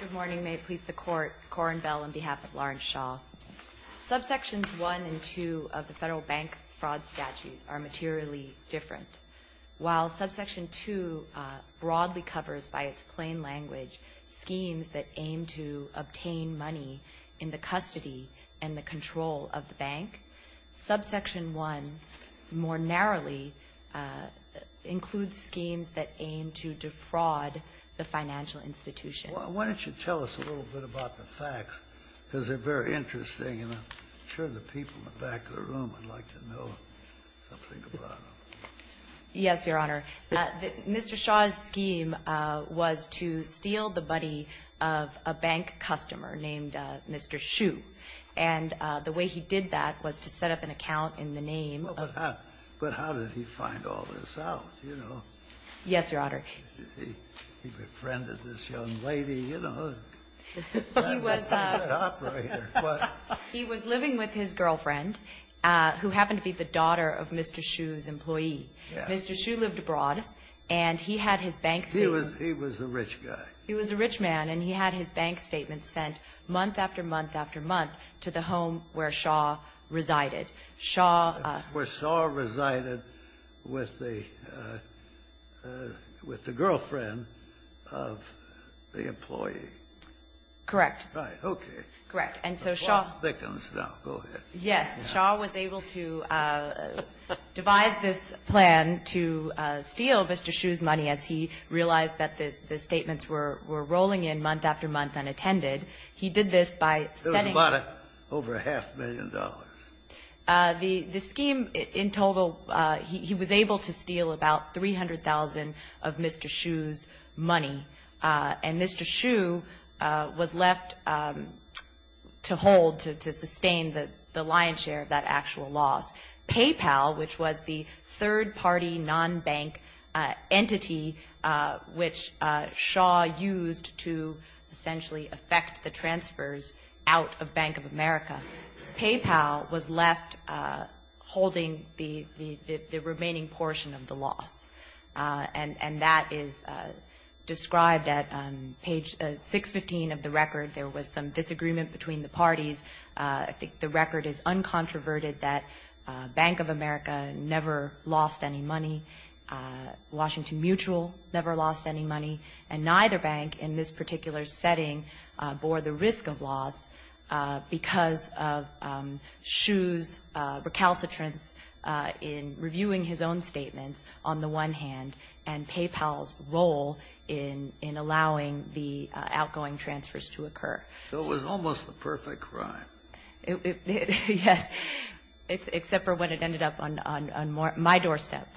Good morning. May it please the Court, Corin Bell on behalf of Lawrence Shaw. Subsections 1 and 2 of the Federal Bank Fraud Statute are materially different. While Subsection 2 broadly covers, by its plain language, schemes that aim to obtain money in the custody and the control of the bank, Subsection 1, more narrowly, includes schemes that aim to defraud the financial institution. Why don't you tell us a little bit about the facts, because they're very interesting. And I'm sure the people in the back of the room would like to know something about them. Yes, Your Honor. Mr. Shaw's scheme was to steal the money of a bank customer named Mr. Shu. And the way he did that was to set up an account in the name of the bank. But how did he find all this out, you know? Yes, Your Honor. He befriended this young lady, you know. He was living with his girlfriend, who happened to be the daughter of Mr. Shu's employee. Mr. Shu lived abroad, and he had his bank statement. He was a rich guy. He was a rich man, and he had his bank statement sent month after month after month to the home where Shaw resided. Where Shaw resided with the girlfriend of the employee. Correct. Right. Okay. Correct. And so Shaw was able to devise this plan to steal Mr. Shu's money as he realized that the statements were rolling in month after month unattended. He did this by setting up. It was about over a half million dollars. The scheme in total, he was able to steal about $300,000 of Mr. Shu's money. And Mr. Shu was left to hold, to sustain the lion's share of that actual loss. PayPal, which was the third-party non-bank entity, which Shaw used to essentially effect the transfers out of Bank of America, PayPal was left holding the remaining portion of the loss. And that is described at page 615 of the record. There was some disagreement between the parties. I think the record is uncontroverted that Bank of America never lost any money. Washington Mutual never lost any money. And neither bank in this particular setting bore the risk of loss because of Shu's recalcitrance in reviewing his own statements on the one hand and PayPal's role in allowing the outgoing transfers to occur. So it was almost a perfect crime. Yes. Except for when it ended up on my doorstep.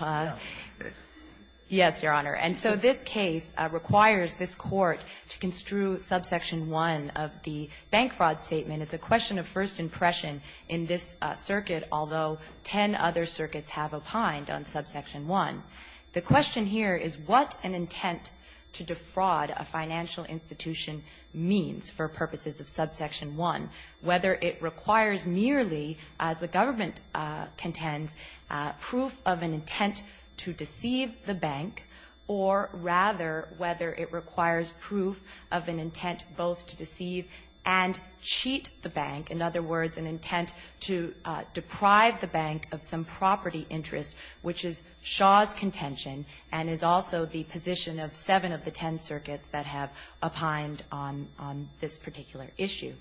Yes, Your Honor. And so this case requires this Court to construe subsection 1 of the bank fraud statement. It's a question of first impression in this circuit, although ten other circuits have opined on subsection 1. The question here is what an intent to defraud a financial institution means for purposes of subsection 1, whether it requires merely, as the government contends, proof of an intent to deceive the bank, or rather whether it requires proof of an intent both to deceive and cheat the bank, in other words, an intent to deprive the bank of some property interest, which is Shu's contention and is also the position of seven of the ten circuits that have opined on this particular issue.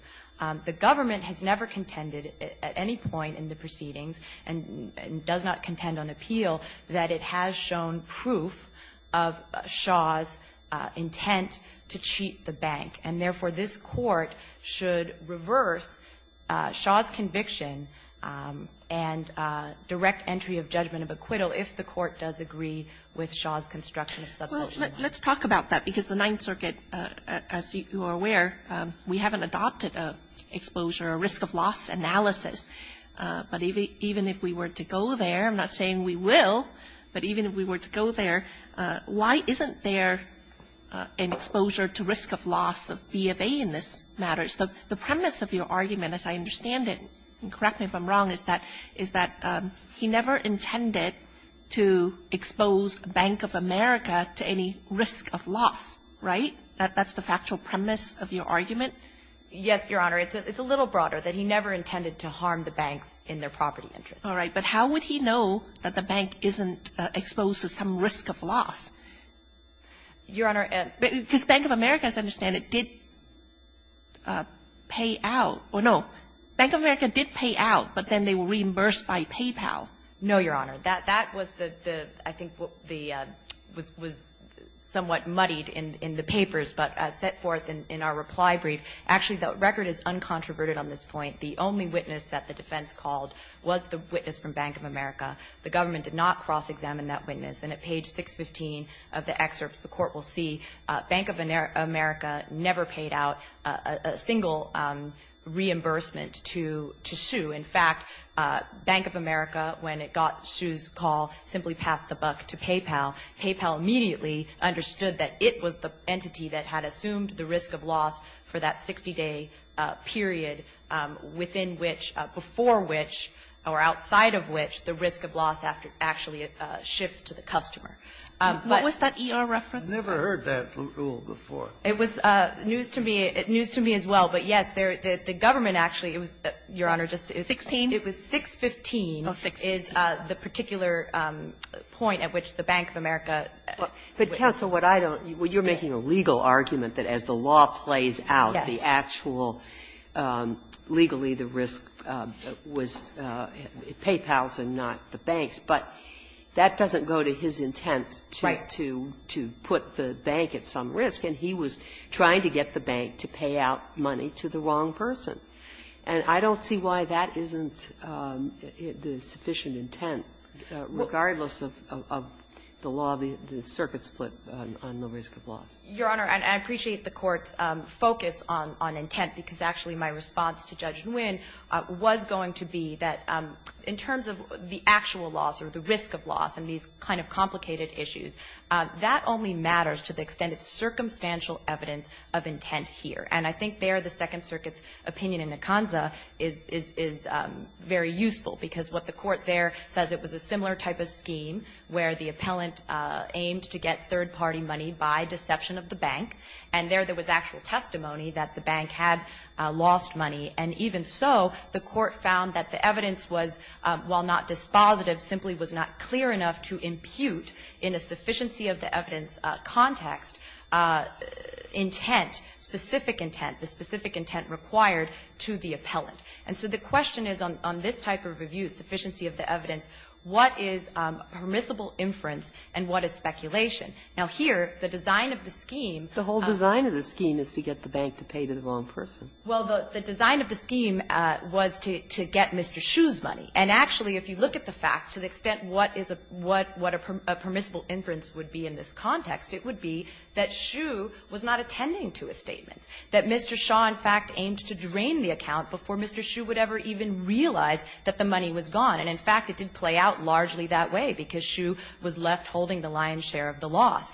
The government has never contended at any point in the proceedings and does not contend on appeal that it has shown proof of Shu's intent to cheat the bank. And therefore, this Court should reverse Shu's conviction and direct entry of judgment of acquittal if the Court does agree with Shu's construction of subsection 1. Well, let's talk about that, because the Ninth Circuit, as you are aware, we haven't adopted an exposure or risk of loss analysis. But even if we were to go there, I'm not saying we will, but even if we were to go there, why isn't there an exposure to risk of loss of B of A in this matter? The premise of your argument, as I understand it, and correct me if I'm wrong, is that he never intended to expose Bank of America to any risk of loss, right? That's the factual premise of your argument? Yes, Your Honor. It's a little broader, that he never intended to harm the banks in their property interest. All right, but how would he know that the bank isn't exposed to some risk of loss? Your Honor, because Bank of America, as I understand it, did pay out or no. Bank of America did pay out, but then they were reimbursed by PayPal. No, Your Honor. That was the, I think, the was somewhat muddied in the papers, but set forth in our reply brief. Actually, the record is uncontroverted on this point. The only witness that the defense called was the witness from Bank of America. The government did not cross-examine that witness. And at page 615 of the excerpts, the Court will see Bank of America never paid out a single reimbursement to Shu. In fact, Bank of America, when it got Shu's call, simply passed the buck to PayPal. PayPal immediately understood that it was the entity that had assumed the risk of loss for that 60-day period within which, before which, or outside of which, the risk of loss actually shifts to the customer. What was that E.R. reference? I've never heard that rule before. It was news to me. It was news to me as well. But, yes, the government actually, Your Honor, just to explain. 16? It was 615. Oh, 615. Is the particular point at which the Bank of America witnesses. But, counsel, what I don't. You're making a legal argument that as the law plays out, the actual, legally the risk was PayPal's and not the bank's. But that doesn't go to his intent to put the bank at some risk. And he was trying to get the bank to pay out money to the wrong person. And I don't see why that isn't the sufficient intent, regardless of the law of the circuit's split on the risk of loss. Your Honor, I appreciate the Court's focus on intent, because actually my response to Judge Nguyen was going to be that in terms of the actual loss or the risk of loss and these kind of complicated issues, that only matters to the extent it's circumstantial evidence of intent here. And I think there the Second Circuit's opinion in Ekanza is very useful, because what the Court there says, it was a similar type of scheme where the appellant aimed to get third-party money by deception of the bank. And there, there was actual testimony that the bank had lost money. And even so, the Court found that the evidence was, while not dispositive, simply was not clear enough to impute in a sufficiency of the evidence context intent, specific intent, the specific intent required to the appellant. And so the question is on this type of review, sufficiency of the evidence, what is permissible inference and what is speculation? Now, here, the design of the scheme of the scheme is to get the bank to pay to the wrong person. Well, the design of the scheme was to get Mr. Hsu's money. And actually, if you look at the facts, to the extent what is a permissible inference would be in this context, it would be that Hsu was not attending to his statements. That Mr. Hsu, in fact, aimed to drain the account before Mr. Hsu would ever even realize that the money was gone. And in fact, it did play out largely that way, because Hsu was left holding the lion's share of the loss.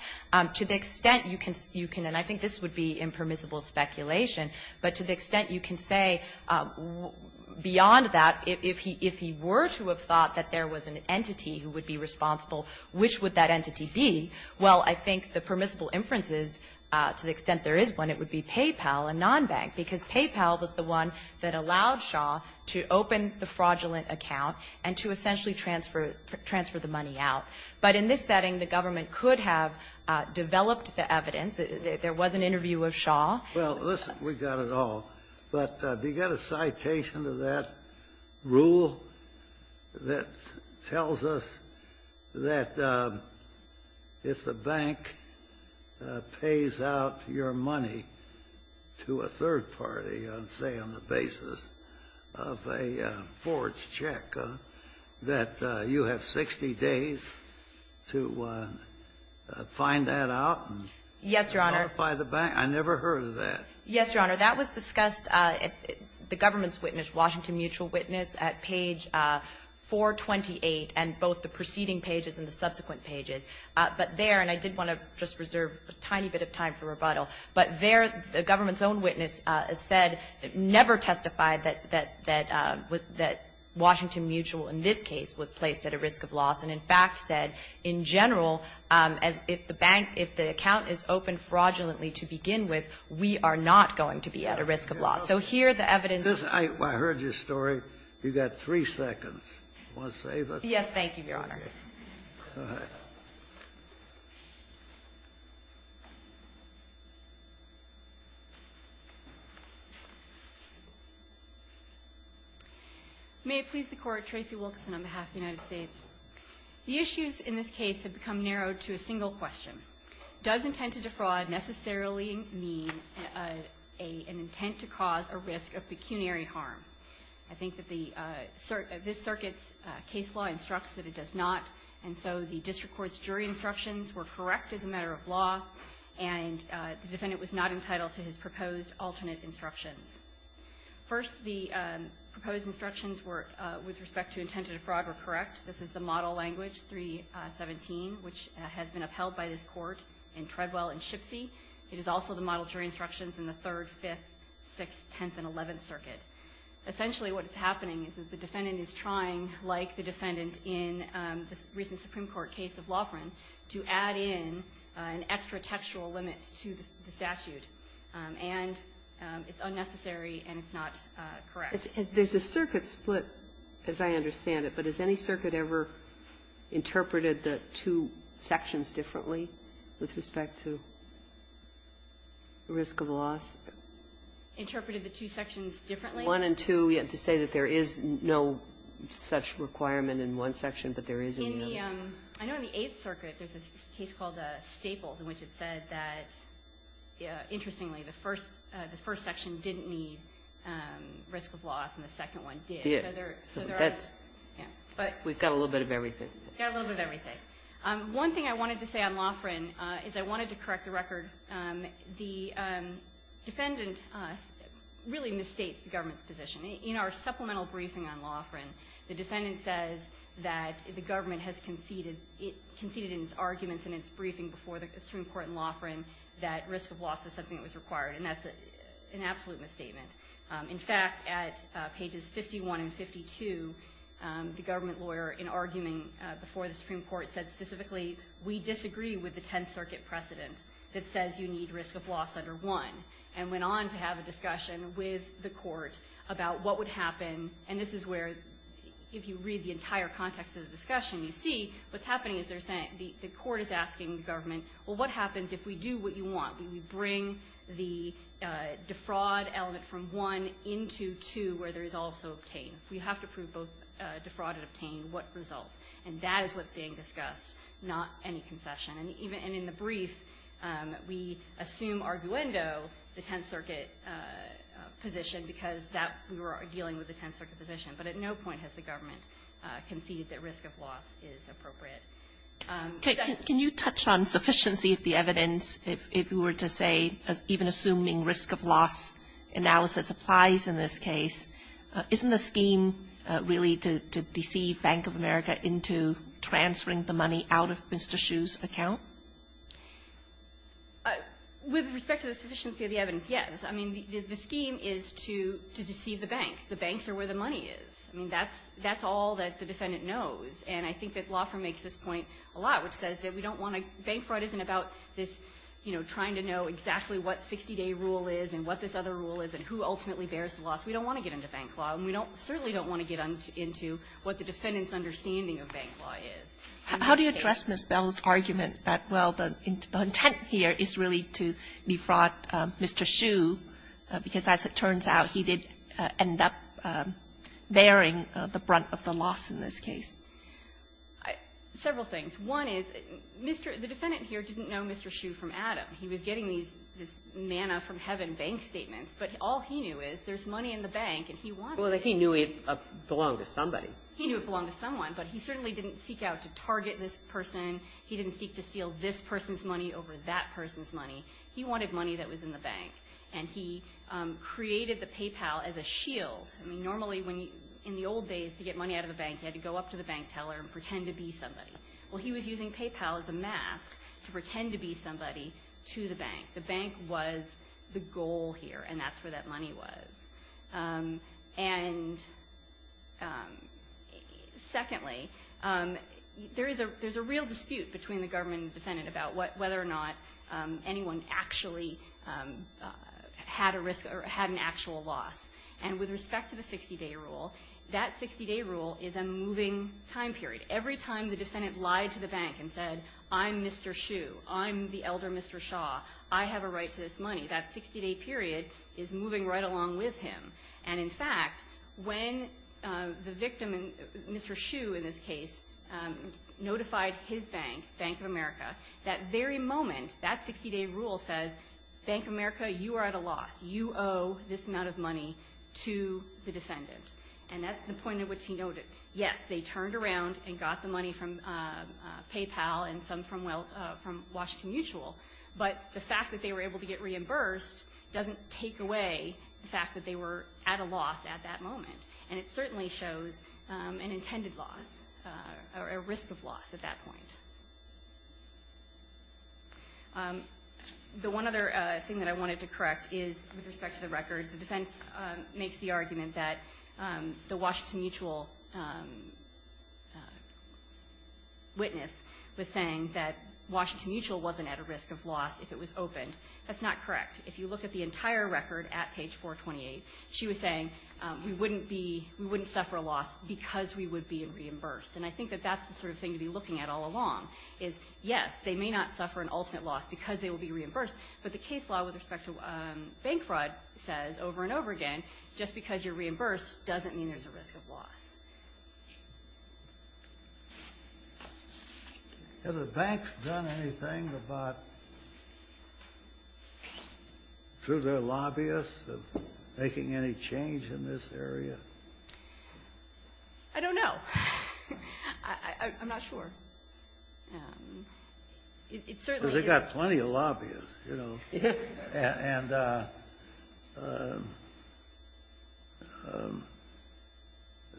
To the extent you can say, and I think this would be impermissible speculation, but to the extent you can say beyond that, if he were to have thought that there was an entity who would be responsible, which would that entity be, well, I think the permissible inferences, to the extent there is one, it would be PayPal, a non-bank. Because PayPal was the one that allowed Hsu to open the fraudulent account and to essentially transfer the money out. But in this setting, the government could have developed the evidence. There was an interview of Hsu. Well, listen, we've got it all. But do you got a citation to that rule that tells us that if the bank pays out your money to a third party on, say, on the basis of a forged check, that you have 60 days to find that out and notify the bank? Yes, Your Honor. I never heard of that. Yes, Your Honor. That was discussed at the government's witness, Washington Mutual witness, at page 428, and both the preceding pages and the subsequent pages. But there, and I did want to just reserve a tiny bit of time for rebuttal, but there, the government's own witness said, never testified that Washington Mutual, in this case, was placed at a risk of loss, and in fact said, in general, as if the bank, if the account is open fraudulently to begin with, we are not going to be at a risk of loss. So here, the evidence of the court's rebuttal. I heard your story. You've got three seconds. Want to save it? Yes, thank you, Your Honor. Go ahead. May it please the Court. Tracey Wilkinson on behalf of the United States. The issues in this case have become narrowed to a single question. Does intent to defraud necessarily mean an intent to cause a risk of pecuniary harm? I think that this circuit's case law instructs that it does not. And so the district court's jury instructions were correct as a matter of law. And the defendant was not entitled to his proposed alternate instructions. First, the proposed instructions with respect to intent to defraud were correct. This is the model language, 317, which has been upheld by this court in Treadwell and Shipsey. It is also the model jury instructions in the Third, Fifth, Sixth, Tenth, and Eleventh Circuit. Essentially, what is happening is that the defendant is trying, like the defendant in the recent Supreme Court case of Loughran, to add in an extra textual limit to the statute. And it's unnecessary, and it's not correct. There's a circuit split, as I understand it. But has any circuit ever interpreted the two sections differently with respect to risk of loss? Interpreted the two sections differently? One and two, we have to say that there is no such requirement in one section, but there is in the other. In the Eighth Circuit, there's a case called Staples in which it said that, interestingly, the first section didn't need risk of loss, and the second one did. We've got a little bit of everything. One thing I wanted to say on Loughran is I wanted to correct the record. The defendant really misstates the government's position. In our supplemental briefing on Loughran, the defendant says that the government has conceded in its arguments in its briefing before the Supreme Court in Loughran that risk of loss was something that was required. And that's an absolute misstatement. In fact, at pages 51 and 52, the government lawyer, in arguing before the Supreme Court, said specifically, we disagree with the Tenth Circuit precedent that says you need risk of loss under one, and went on to have a discussion with the court about what would happen. And this is where, if you read the entire context of the discussion, you see what's happening is the court is asking the government, well, what happens if we do what you want? Do we bring the defraud element from one into two, where there is also obtain? We have to prove both defraud and obtain, what results? And that is what's being discussed, not any concession. And even in the brief, we assume arguendo the Tenth Circuit position because that we were dealing with the Tenth Circuit position. But at no point has the government conceded that risk of loss is appropriate. Kagan, can you touch on sufficiency of the evidence, if you were to say, even assuming risk of loss analysis applies in this case? Isn't the scheme really to deceive Bank of America into transferring the money out of Mr. Hsu's account? With respect to the sufficiency of the evidence, yes. I mean, the scheme is to deceive the banks. The banks are where the money is. I mean, that's all that the defendant knows. And I think that Loffer makes this point a lot, which says that we don't want to – bank fraud isn't about this, you know, trying to know exactly what 60-day rule is and what this other rule is and who ultimately bears the loss. We don't want to get into bank law, and we don't – certainly don't want to get into what the defendant's understanding of bank law is. How do you address Ms. Bell's argument that, well, the intent here is really to defraud Mr. Hsu, because as it turns out, he did end up bearing the brunt of the loss in this case? Several things. One is, Mr. – the defendant here didn't know Mr. Hsu from Adam. He was getting these manna-from-heaven bank statements. But all he knew is there's money in the bank, and he wanted it. Well, he knew it belonged to somebody. He knew it belonged to someone, but he certainly didn't seek out to target this person. He didn't seek to steal this person's money over that person's money. He wanted money that was in the bank. And he created the PayPal as a shield. I mean, normally when you – in the old days, to get money out of a bank, you had to go up to the bank teller and pretend to be somebody. Well, he was using PayPal as a mask to pretend to be somebody to the bank. The bank was the goal here, and that's where that money was. And secondly, there's a real dispute between the government and the defendant about whether or not anyone actually had a risk or had an actual loss. And with respect to the 60-day rule, that 60-day rule is a moving time period. Every time the defendant lied to the bank and said, I'm Mr. Hsu, I'm the elder Mr. Shah, I have a right to this money, that 60-day period is moving right along with him. And in fact, when the victim, Mr. Hsu in this case, notified his bank, Bank of America, that very moment, that 60-day rule says, Bank of America, you are at a loss. You owe this amount of money to the defendant. And that's the point at which he noted, yes, they turned around and got the money from PayPal, and some from Washington Mutual, but the fact that they were able to get reimbursed doesn't take away the fact that they were at a loss at that moment. And it certainly shows an intended loss, or a risk of loss at that point. The one other thing that I wanted to correct is, with respect to the record, the defense makes the argument that the Washington Mutual witness was saying that Washington Mutual wasn't at a risk of loss if it was opened. That's not correct. If you look at the entire record at page 428, she was saying we wouldn't be, we wouldn't suffer a loss because we would be reimbursed. And I think that that's the sort of thing to be looking at all along, is yes, they may not suffer an ultimate loss because they will be reimbursed, but the case law with respect to bank fraud says over and over again, just because you're reimbursed doesn't mean there's a risk of loss. Has the banks done anything about, through their lobbyists, of making any change in this area? I don't know. I'm not sure. It certainly is. Well, they've got plenty of lobbyists, you know, and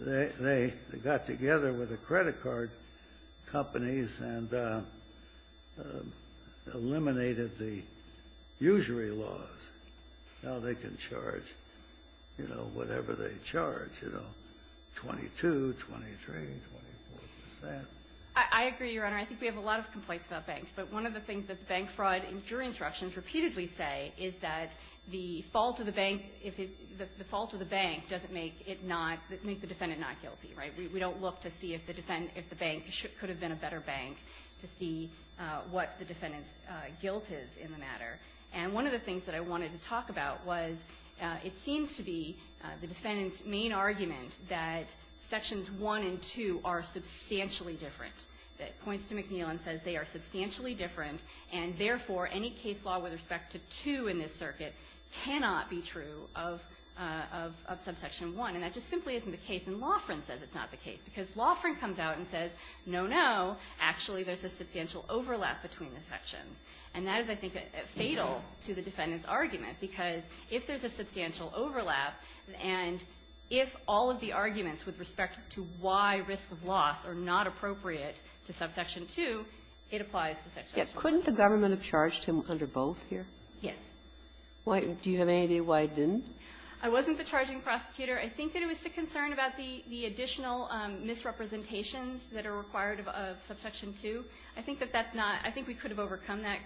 they got together with the credit card companies and eliminated the usury laws. And they're not going to do anything about it. And I think that's the sort of thing to be looking at all along, is yes, they may not says over and over again, just because you're reimbursed doesn't mean there's a risk of Has the banks done anything about, through their lobbyists, of making any change in this area? I don't know. I agree, Your Honor. I think we have a lot of complaints about banks, but one of the things that bank fraud and jury instructions repeatedly say is that the fault of the bank, if it, the fault of the bank doesn't make it not, make the defendant not guilty, right? We don't look to see if the bank could have been a better bank to see what the defendant's guilt is in the matter. And one of the things that I wanted to talk about was, it seems to be the defendant's main argument that Sections 1 and 2 are substantially different. It points to McNeil and says they are substantially different, and therefore, any case law with respect to 2 in this circuit cannot be true of Subsection 1. And that just simply isn't the case. I think we have a lot of complaints about banks, but one of the things that bank fraud comes out and says, no, no, actually there's a substantial overlap between the sections. And that is, I think, fatal to the defendant's argument, because if there's a substantial overlap and if all of the arguments with respect to why risk of loss are not appropriate to Subsection 2, it applies to Subsection 1. Ginsburg. Couldn't the government have charged him under both here? Yes. Do you have any idea why it didn't? about the additional misrepresentations that are required of Subsection 2. I think that that's not — I think we could have overcome that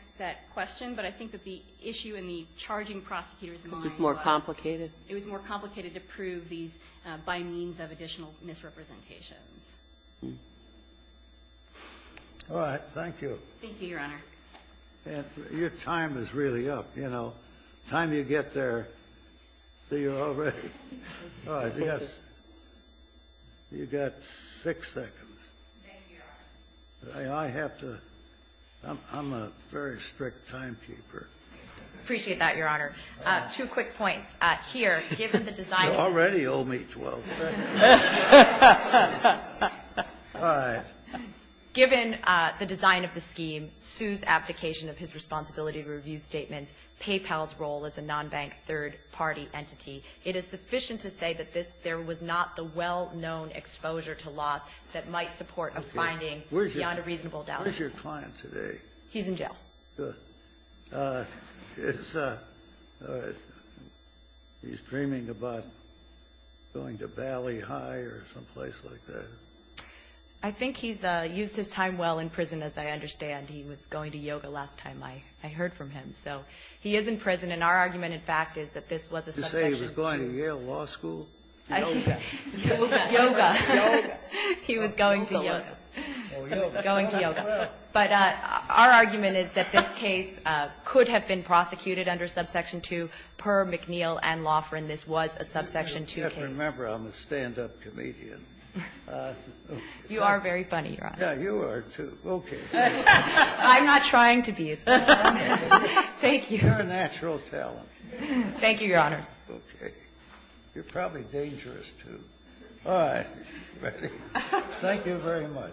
question, but I think that the issue in the charging prosecutor's mind was — Because it's more complicated? It was more complicated to prove these by means of additional misrepresentations. All right. Thank you. Thank you, Your Honor. Your time is really up, you know. You got six seconds. Thank you, Your Honor. I have to — I'm a very strict timekeeper. Appreciate that, Your Honor. Two quick points. Here, given the design — You already owe me 12 seconds. All right. Given the design of the scheme, Su's abdication of his responsibility review statement, Paypal's role as a non-bank third-party entity, it is sufficient to say that this — there was not the well-known exposure to loss that might support a finding beyond a reasonable doubt. Where's your client today? He's in jail. Good. Is — he's dreaming about going to Valley High or someplace like that? I think he's used his time well in prison, as I understand. And he was going to yoga last time I heard from him. So he is in prison. And our argument, in fact, is that this was a Subsection 2. Did you say he was going to Yale Law School? Yoga. Yoga. Yoga. He was going to yoga. Oh, yoga. He was going to yoga. But our argument is that this case could have been prosecuted under Subsection 2, per McNeill and Laughrin. This was a Subsection 2 case. Just remember I'm a stand-up comedian. You are very funny, Your Honor. Yeah, you are, too. Okay. I'm not trying to be. Thank you. You're a natural talent. Thank you, Your Honor. Okay. You're probably dangerous, too. All right. Thank you very much.